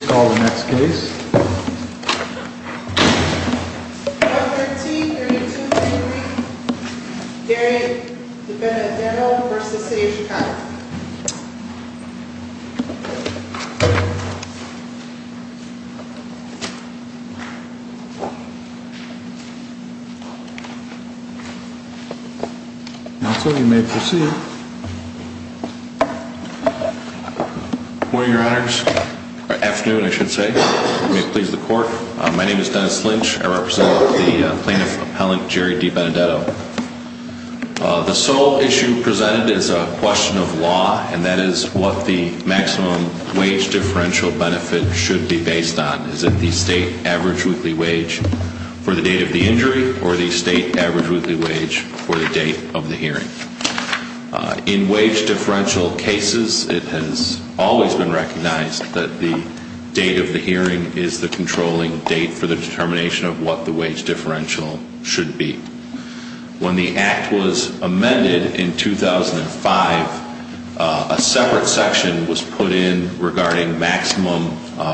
Let's call the next case. Number T3233, Gary Dibenedetto v. City of Chicago. Now, sir, you may proceed. Good morning, your honors. Or afternoon, I should say. May it please the court. My name is Dennis Lynch. I represent the plaintiff's appellant, Gary Dibenedetto. The sole issue presented is a question of law, and that is what the maximum wage differential benefit should be based on. Is it the state average weekly wage for the date of the injury, or the state average weekly wage for the date of the hearing? In wage differential cases, it has always been recognized that the date of the hearing is the controlling date for the determination of what the wage differential should be. When the Act was amended in 2005, a separate section was put in regarding maximum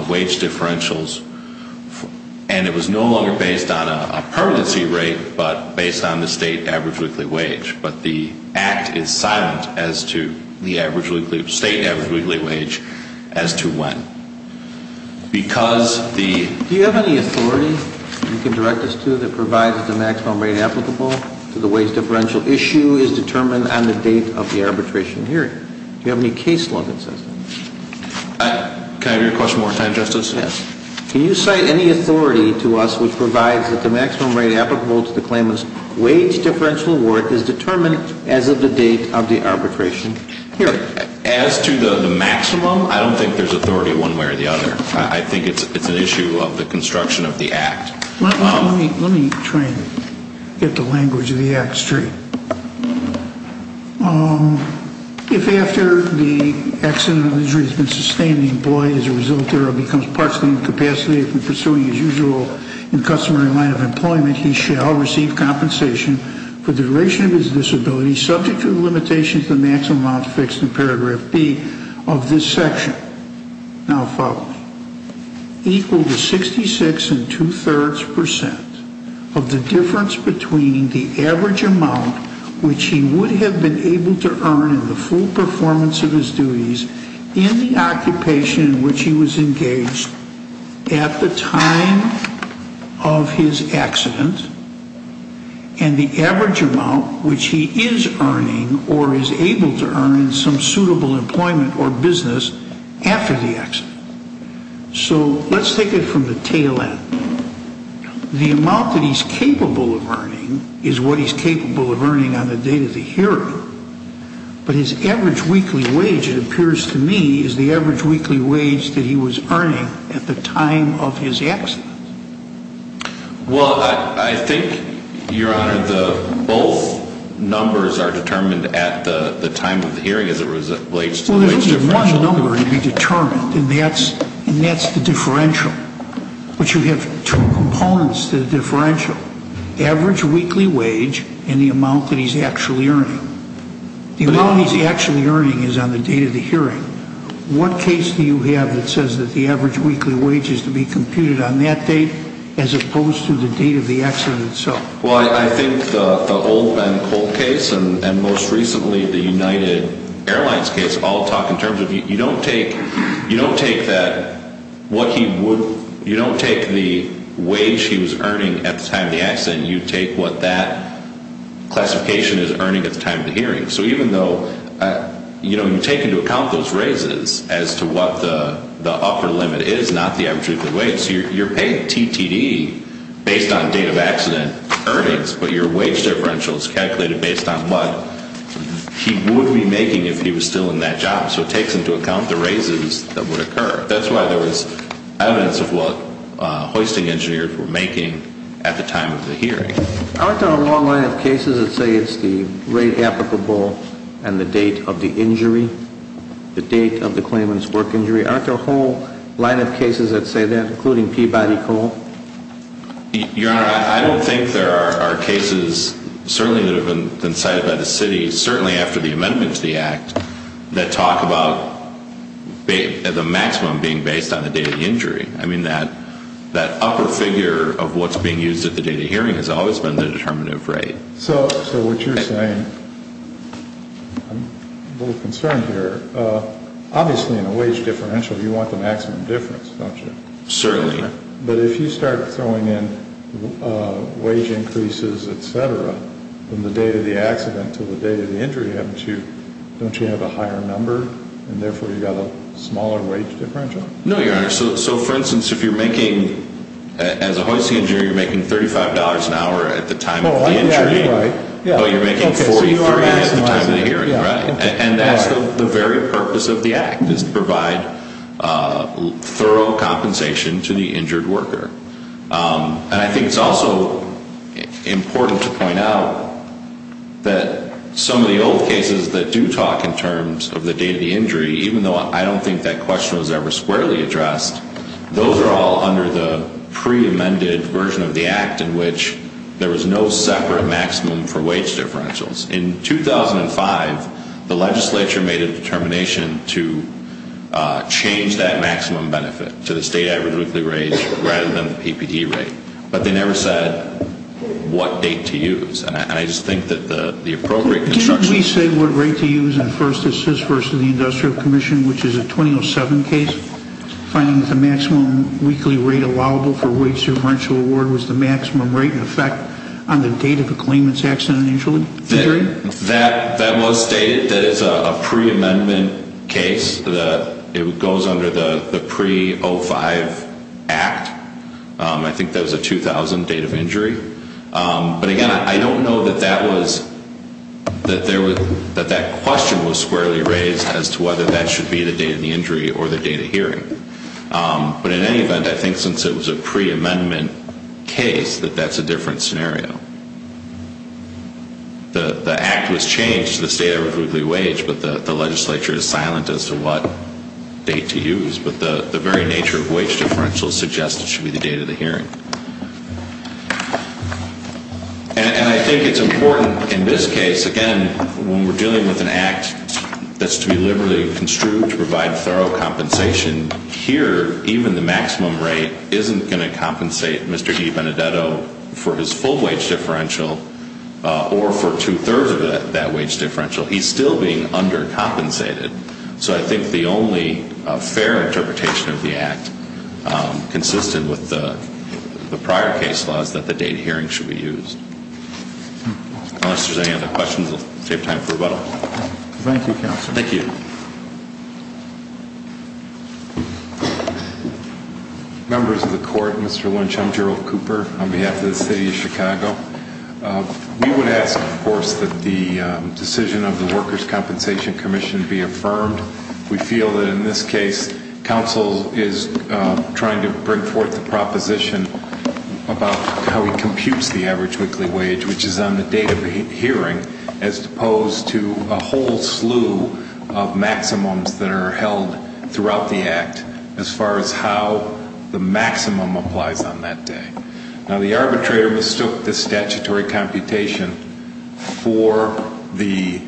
wage differentials, and it was no longer based on a permanency rate, but based on the state average weekly wage. But the Act is silent as to the state average weekly wage as to when. Do you have any authority you can direct us to that provides that the maximum rate applicable to the wage differential issue is determined on the date of the arbitration hearing? Do you have any case law that says that? Can I have your question one more time, Justice? Can you cite any authority to us which provides that the maximum rate applicable to the claimant's wage differential award is determined as of the date of the arbitration hearing? As to the maximum, I don't think there's authority one way or the other. I think it's an issue of the construction of the Act. Let me try and get the language of the Act straight. If, after the accident or injury has been sustained, the employee is a result or becomes partial incapacitated from pursuing his usual and customary line of employment, he shall receive compensation for the duration of his disability subject to the limitations of the maximum amount fixed in paragraph B of this section. Now, follow me. Equal to 66.2% of the difference between the average amount which he would have been able to earn in the full performance of his duties in the occupation in which he was engaged at the time of his accident and the average amount which he is earning or is able to earn in some suitable employment or business after the accident. So let's take it from the tail end. The amount that he's capable of earning is what he's capable of earning on the date of the hearing, but his average weekly wage, it appears to me, is the average weekly wage that he was earning at the time of his accident. Well, I think, Your Honor, both numbers are determined at the time of the hearing as it relates to the wage differential. Well, there's only one number to be determined, and that's the differential. But you have two components to the differential, average weekly wage and the amount that he's actually earning. The amount he's actually earning is on the date of the hearing. What case do you have that says that the average weekly wage is to be computed on that date as opposed to the date of the accident itself? Well, I think the Oldman Cold case and most recently the United Airlines case all talk in terms of you don't take the wage he was earning at the time of the accident, you take what that classification is earning at the time of the hearing. So even though you take into account those raises as to what the upper limit is, not the average weekly wage, you're paying TTD based on date of accident earnings, but your wage differential is calculated based on what he would be making if he was still in that job. So it takes into account the raises that would occur. That's why there was evidence of what hoisting engineers were making at the time of the hearing. Aren't there a long line of cases that say it's the rate applicable and the date of the injury, the date of the claimant's work injury? Aren't there a whole line of cases that say that, including Peabody Cold? Your Honor, I don't think there are cases, certainly that have been cited by the city, certainly after the amendment to the Act, that talk about the maximum being based on the date of the injury. I mean, that upper figure of what's being used at the date of hearing has always been the determinative rate. So what you're saying, I'm a little concerned here. Obviously, in a wage differential, you want the maximum difference, don't you? Certainly. But if you start throwing in wage increases, et cetera, from the date of the accident to the date of the injury, don't you have a higher number, and therefore you've got a smaller wage differential? No, Your Honor. So, for instance, if you're making, as a hoisting engineer, you're making $35 an hour at the time of the injury, but you're making $43 at the time of the hearing, right? And that's the very purpose of the Act, is to provide thorough compensation to the injured worker. And I think it's also important to point out that some of the old cases that do talk in terms of the date of the injury, even though I don't think that question was ever squarely addressed, those are all under the pre-amended version of the Act in which there was no separate maximum for wage differentials. In 2005, the legislature made a determination to change that maximum benefit to the state average weekly rate rather than the PPD rate. But they never said what date to use. And I just think that the appropriate construction... Didn't we say what rate to use in First Assist versus the Industrial Commission, which is a 2007 case, finding that the maximum weekly rate allowable for wage differential award was the maximum rate in effect on the date of the claimant's accident injury? That was stated. That is a pre-amendment case. It goes under the pre-05 Act. I think that was a 2000 date of injury. But again, I don't know that that question was squarely raised as to whether that should be the date of the injury or the date of hearing. But in any event, I think since it was a pre-amendment case, that that's a different scenario. The Act was changed to the state average weekly wage, but the legislature is silent as to what date to use. But the very nature of wage differential suggests it should be the date of the hearing. And I think it's important in this case, again, when we're dealing with an Act that's to be liberally construed to provide thorough compensation, here even the maximum rate isn't going to compensate Mr. E. Benedetto for his full wage differential or for two-thirds of that wage differential. He's still being undercompensated. So I think the only fair interpretation of the Act consistent with the prior case law is that the date of hearing should be used. Unless there's any other questions, we'll save time for rebuttal. Thank you, Counselor. Thank you. Members of the Court, Mr. Lynch, I'm Gerald Cooper on behalf of the City of Chicago. We would ask, of course, that the decision of the Workers' Compensation Commission be affirmed. We feel that in this case, Counsel is trying to bring forth the proposition about how he computes the average weekly wage, which is on the date of hearing, as opposed to a whole slew of maximums that are held throughout the Act as far as how the maximum applies on that day. Now, the arbitrator mistook the statutory computation for the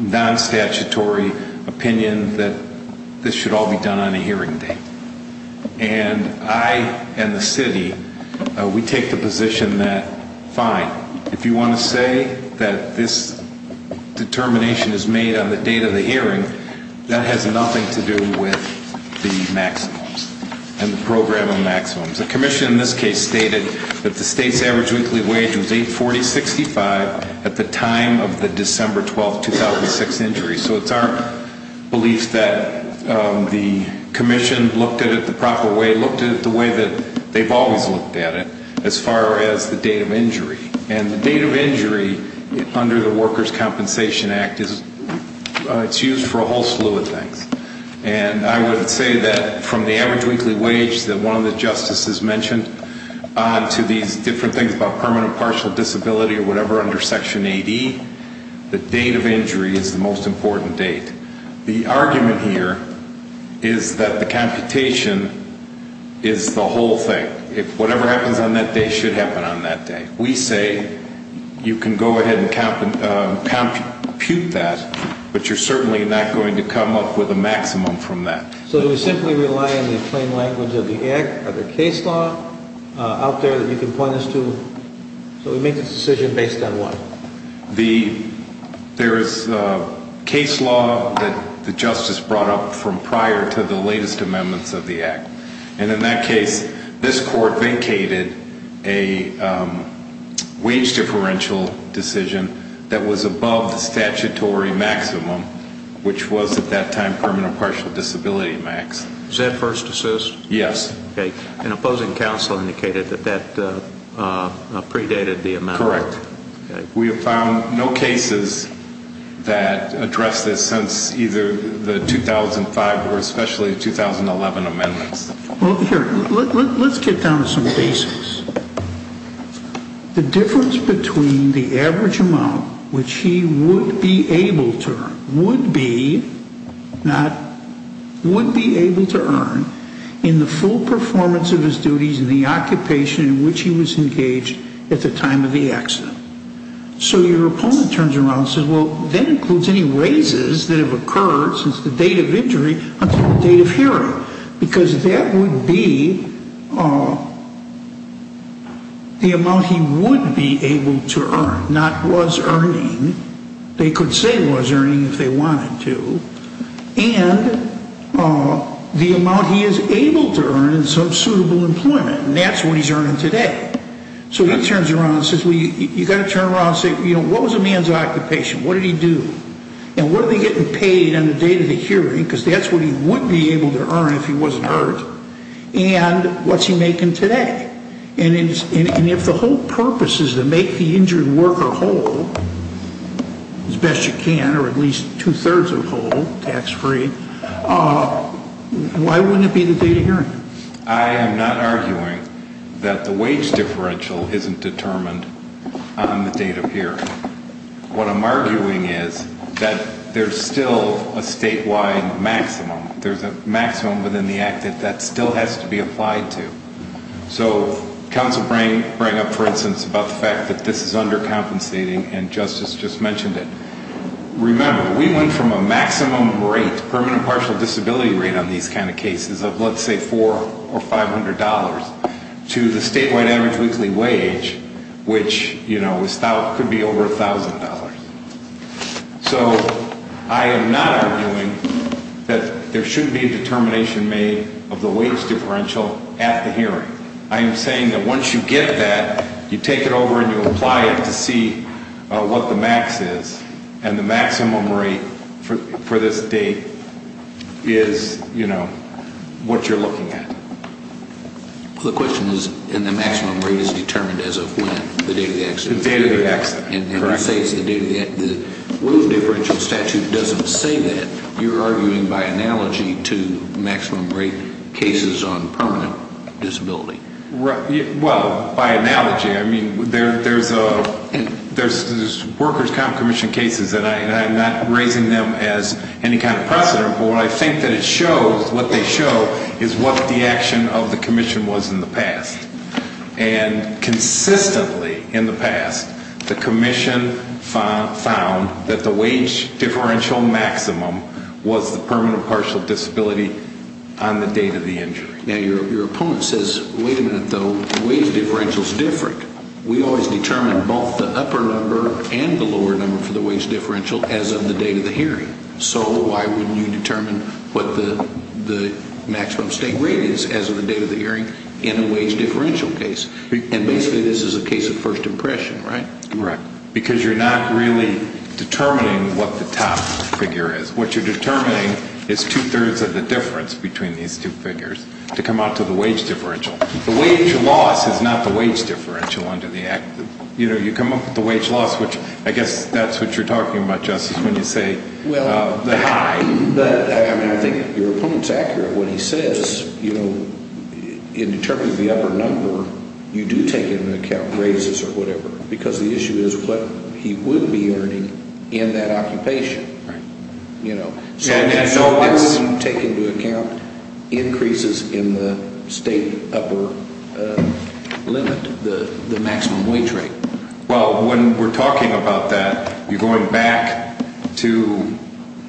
non-statutory opinion that this should all be done on a hearing date. And I and the City, we take the position that, fine, if you want to say that this determination is made on the date of the hearing, that has nothing to do with the maximums and the program of maximums. The Commission in this case stated that the state's average weekly wage was $840.65 at the time of the December 12, 2006, injury. So it's our belief that the Commission looked at it the proper way, looked at it the way that they've always looked at it, as far as the date of injury. And the date of injury under the Workers' Compensation Act is used for a whole slew of things. And I would say that from the average weekly wage that one of the Justices mentioned to these different things about permanent partial disability or whatever under Section 8E, the date of injury is the most important date. The argument here is that the computation is the whole thing. Whatever happens on that day should happen on that day. We say you can go ahead and compute that, but you're certainly not going to come up with a maximum from that. So do we simply rely on the plain language of the Act or the case law out there that you can point us to? So we make this decision based on what? There is case law that the Justice brought up from prior to the latest amendments of the Act. And in that case, this Court vacated a wage differential decision that was above the statutory maximum, which was at that time permanent partial disability max. Was that first assist? Yes. Okay. And opposing counsel indicated that that predated the amendment. Correct. We have found no cases that address this since either the 2005 or especially 2011 amendments. Well, here, let's get down to some basics. The difference between the average amount which he would be able to earn, would be, not would be able to earn, in the full performance of his duties and the occupation in which he was engaged at the time of the accident. So your opponent turns around and says, well, that includes any raises that have occurred since the date of injury until the date of hearing. Because that would be the amount he would be able to earn, not was earning. They could say was earning if they wanted to. And the amount he is able to earn in some suitable employment. And that's what he's earning today. So he turns around and says, well, you've got to turn around and say, you know, what was a man's occupation? What did he do? And what are they getting paid on the date of the hearing? Because that's what he would be able to earn if he wasn't hurt. And what's he making today? And if the whole purpose is to make the injured worker whole, as best you can, or at least two-thirds of whole, tax-free, why wouldn't it be the date of hearing? I am not arguing that the wage differential isn't determined on the date of hearing. What I'm arguing is that there's still a statewide maximum. There's a maximum within the act that still has to be applied to. So counsel bring up, for instance, about the fact that this is undercompensating, and Justice just mentioned it. Remember, we went from a maximum rate, permanent partial disability rate on these kind of cases of, let's say, $400 or $500, to the statewide average weekly wage, which, you know, could be over $1,000. So I am not arguing that there shouldn't be a determination made of the wage differential at the hearing. I am saying that once you get that, you take it over and you apply it to see what the max is, and the maximum rate for this date is, you know, what you're looking at. The question is, and the maximum rate is determined as of when, the date of the accident? The date of the accident, correct. And you say the wage differential statute doesn't say that. You're arguing by analogy to maximum rate cases on permanent disability. Well, by analogy. I mean, there's workers' comp commission cases, and I'm not raising them as any kind of precedent, but what I think that it shows, what they show, is what the action of the commission was in the past. And consistently in the past, the commission found that the wage differential maximum was the permanent partial disability on the date of the injury. Now, your opponent says, wait a minute, though. The wage differential is different. We always determine both the upper number and the lower number for the wage differential as of the date of the hearing. So why wouldn't you determine what the maximum state rate is as of the date of the hearing in a wage differential case? And basically this is a case of first impression, right? Right. Because you're not really determining what the top figure is. What you're determining is two-thirds of the difference between these two figures to come out to the wage differential. The wage loss is not the wage differential under the act. You know, you come up with the wage loss, which I guess that's what you're talking about, Justice, when you say the high. But, I mean, I think your opponent's accurate when he says, you know, in determining the upper number, you do take into account raises or whatever, because the issue is what he would be earning in that occupation. Right. You know. So why wouldn't you take into account increases in the state upper limit, the maximum wage rate? Well, when we're talking about that, you're going back to,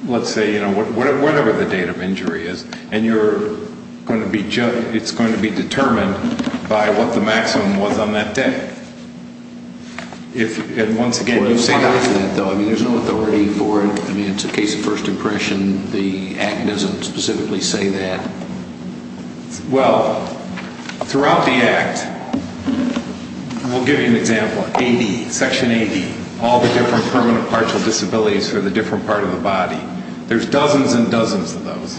let's say, you know, whatever the date of injury is, and you're going to be, it's going to be determined by what the maximum was on that day. And once again, you say that. Why is that, though? I mean, there's no authority for it. I mean, it's a case of first impression. The act doesn't specifically say that. Well, throughout the act, we'll give you an example. Section 80, all the different permanent partial disabilities for the different part of the body. There's dozens and dozens of those.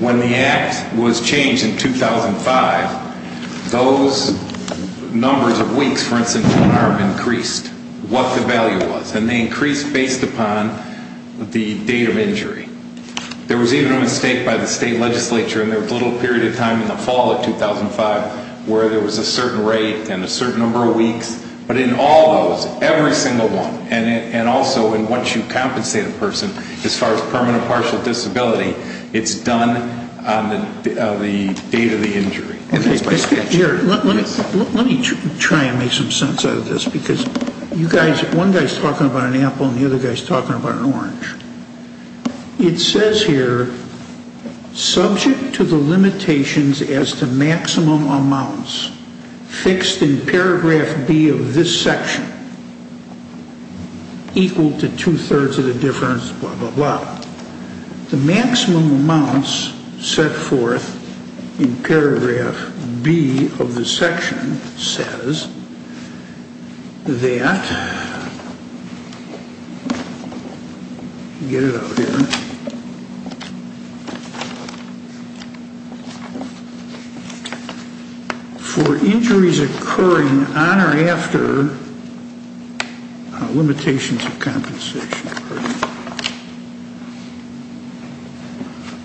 When the act was changed in 2005, those numbers of weeks, for instance, are increased, what the value was. And they increased based upon the date of injury. There was even a mistake by the state legislature, and there was a little period of time in the fall of 2005 where there was a certain rate and a certain number of weeks, but in all those, every single one, and also once you compensate a person as far as permanent partial disability, it's done on the date of the injury. Let me try and make some sense out of this, because you guys, one guy's talking about an apple, and the other guy's talking about an orange. It says here, subject to the limitations as to maximum amounts fixed in paragraph B of this section, equal to two-thirds of the difference, blah, blah, blah. The maximum amounts set forth in paragraph B of this section says that, get it out here, for injuries occurring on or after limitations of compensation.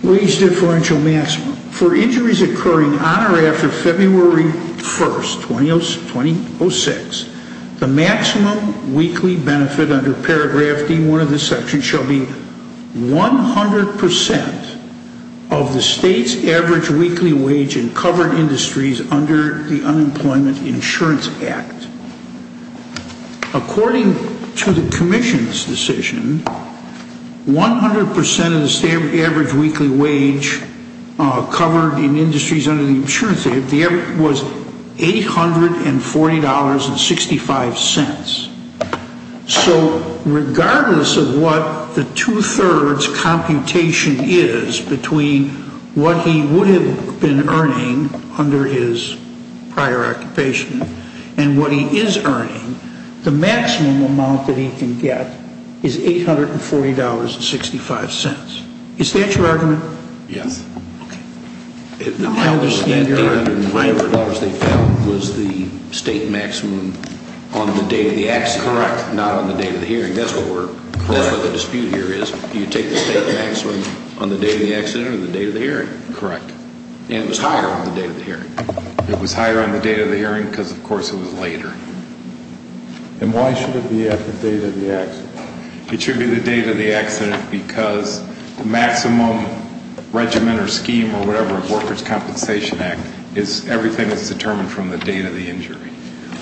Wage differential maximum. For injuries occurring on or after February 1st, 2006, the maximum weekly benefit under paragraph D1 of this section shall be 100% of the state's average weekly wage in covered industries under the Unemployment Insurance Act. According to the commission's decision, 100% of the average weekly wage covered in industries under the insurance act was $840.65. So regardless of what the two-thirds computation is between what he would have been earning under his prior occupation and what he is earning, the maximum amount that he can get is $840.65. Is that your argument? Yes. Okay. Now, how was that different from whatever dollars they felt was the state maximum on the date of the accident? Correct. Not on the date of the hearing. That's what we're, that's what the dispute here is. Do you take the state maximum on the date of the accident or the date of the hearing? Correct. And it was higher on the date of the hearing. It was higher on the date of the hearing because, of course, it was later. And why should it be at the date of the accident? It should be the date of the accident because the maximum regimen or scheme or whatever of workers' compensation act is, everything is determined from the date of the injury.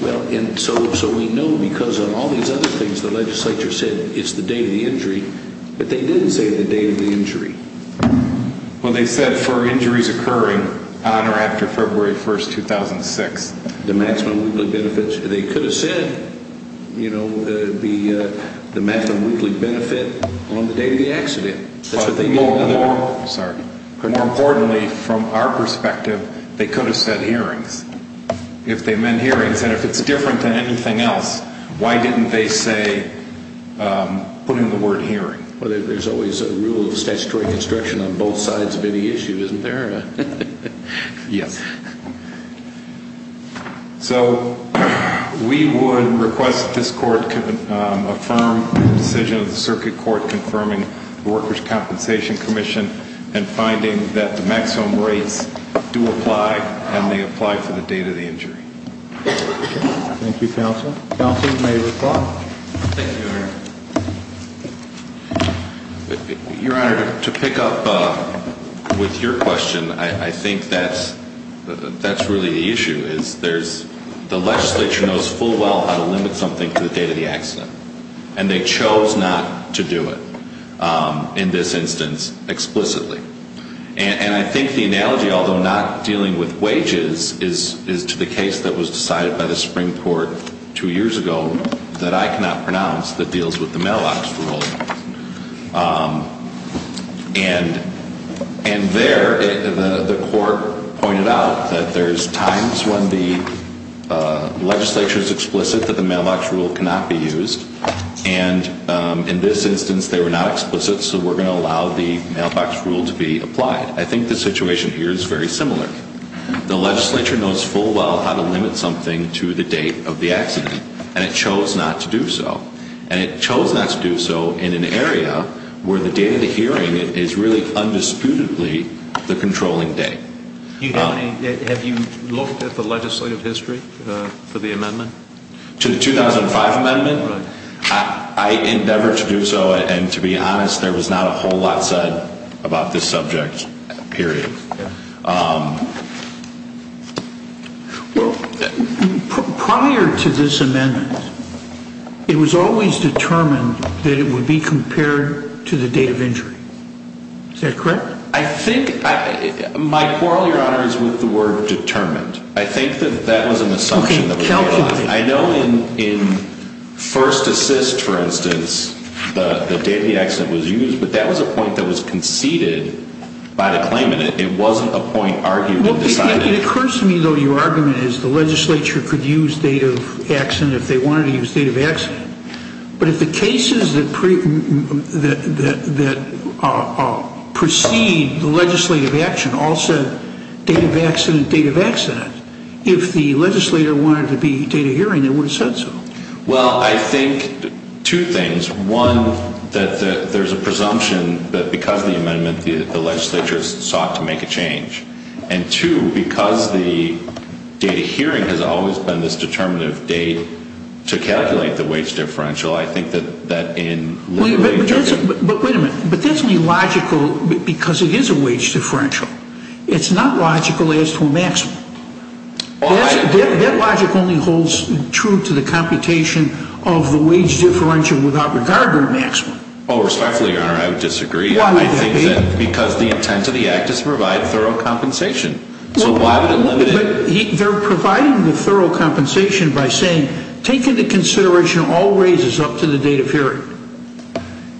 Well, and so we know because of all these other things the legislature said it's the date of the injury, but they didn't say the date of the injury. Well, they said for injuries occurring on or after February 1, 2006. The maximum weekly benefits. They could have said, you know, the maximum weekly benefit on the date of the accident. That's what they did. Sorry. But more importantly, from our perspective, they could have said hearings if they meant hearings. And if it's different than anything else, why didn't they say, put in the word hearing? Well, there's always a rule of statutory construction on both sides of any issue, isn't there? Yes. So we would request that this court can affirm the decision of the circuit court confirming the workers' compensation commission and finding that the maximum rates do apply and they apply for the date of the injury. Thank you, counsel. Counsel, you may reply. Thank you, Your Honor. Your Honor, to pick up with your question, I think that's really the issue. The legislature knows full well how to limit something to the date of the accident, and they chose not to do it in this instance explicitly. And I think the analogy, although not dealing with wages, is to the case that was decided by the Supreme Court two years ago that I cannot pronounce that deals with the mailbox rule. And there the court pointed out that there's times when the legislature is explicit that the mailbox rule cannot be used, and in this instance they were not explicit, so we're going to allow the mailbox rule to be applied. I think the situation here is very similar. The legislature knows full well how to limit something to the date of the accident, and it chose not to do so. And it chose not to do so in an area where the date of the hearing is really undisputedly the controlling date. Have you looked at the legislative history for the amendment? To the 2005 amendment? Right. I endeavor to do so, and to be honest, there was not a whole lot said about this subject, period. Well, prior to this amendment, it was always determined that it would be compared to the date of injury. Is that correct? I think my quarrel, Your Honor, is with the word determined. I think that that was an assumption that was made. Okay. Calculate it. I know in first assist, for instance, the date of the accident was used, but that was a point that was conceded by the claimant. It wasn't a point argued and decided. It occurs to me, though, your argument is the legislature could use date of accident if they wanted to use date of accident. But if the cases that precede the legislative action all said date of accident, date of accident, if the legislator wanted it to be date of hearing, they would have said so. Well, I think two things. One, that there's a presumption that because of the amendment, the legislature sought to make a change. And, two, because the date of hearing has always been this determinative date to calculate the wage differential, I think that that in literally- But wait a minute. But that's only logical because it is a wage differential. It's not logical as to a maximum. That logic only holds true to the computation of the wage differential without regard to a maximum. Oh, respectfully, your honor, I would disagree. Why would that be? Because the intent of the act is to provide thorough compensation. So why would it limit it? They're providing the thorough compensation by saying take into consideration all raises up to the date of hearing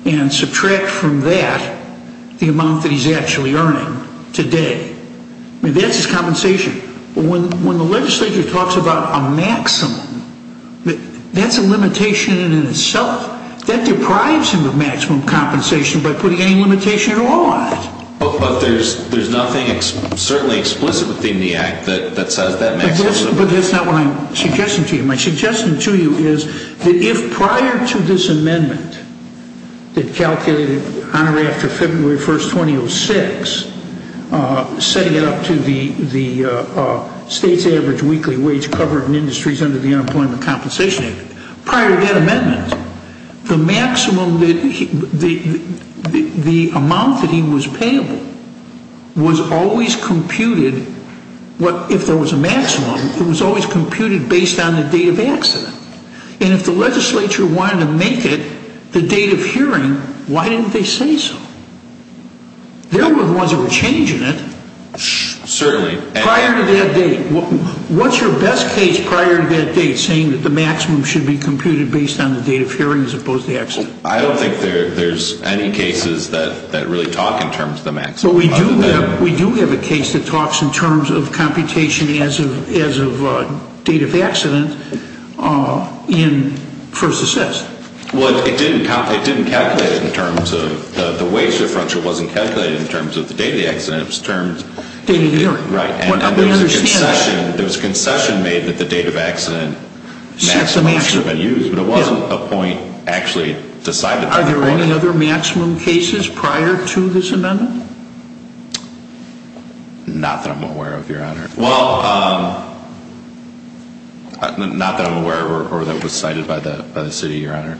and subtract from that the amount that he's actually earning today. I mean, that's his compensation. When the legislature talks about a maximum, that's a limitation in and of itself. That deprives him of maximum compensation by putting any limitation at all on it. But there's nothing certainly explicit within the act that says that maximum- But that's not what I'm suggesting to you. My suggestion to you is that if prior to this amendment that calculated Honorary after February 1st, 2006, setting it up to the state's average weekly wage covered in industries under the Unemployment Compensation Act, prior to that amendment, the amount that he was payable was always computed- And if the legislature wanted to make it the date of hearing, why didn't they say so? They're the ones that were changing it. Certainly. Prior to that date. What's your best case prior to that date saying that the maximum should be computed based on the date of hearing as opposed to the accident? I don't think there's any cases that really talk in terms of the maximum. But we do have a case that talks in terms of computation as of date of accident in first assessed. Well, it didn't calculate it in terms of the wage differential wasn't calculated in terms of the date of the accident. It was terms- Date of hearing. Right. And there was a concession made that the date of accident- That's the maximum. Maximum should have been used, but it wasn't a point actually decided- Are there any other maximum cases prior to this amendment? Not that I'm aware of, Your Honor. Well, not that I'm aware of or that was cited by the city, Your Honor.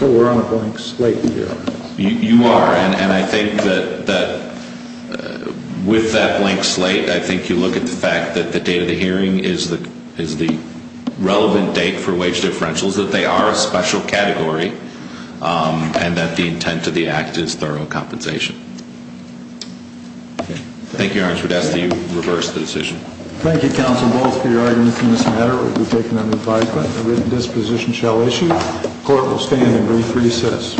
So we're on a blank slate here. You are. And I think that with that blank slate, I think you look at the fact that the date of the hearing is the relevant date for wage differentials, that they are a special category, and that the intent of the act is thorough compensation. Thank you, Your Honor. I would ask that you reverse the decision. Thank you, counsel, both for your arguments in this matter. We've taken an advisement. A written disposition shall issue. Court will stand in brief recess.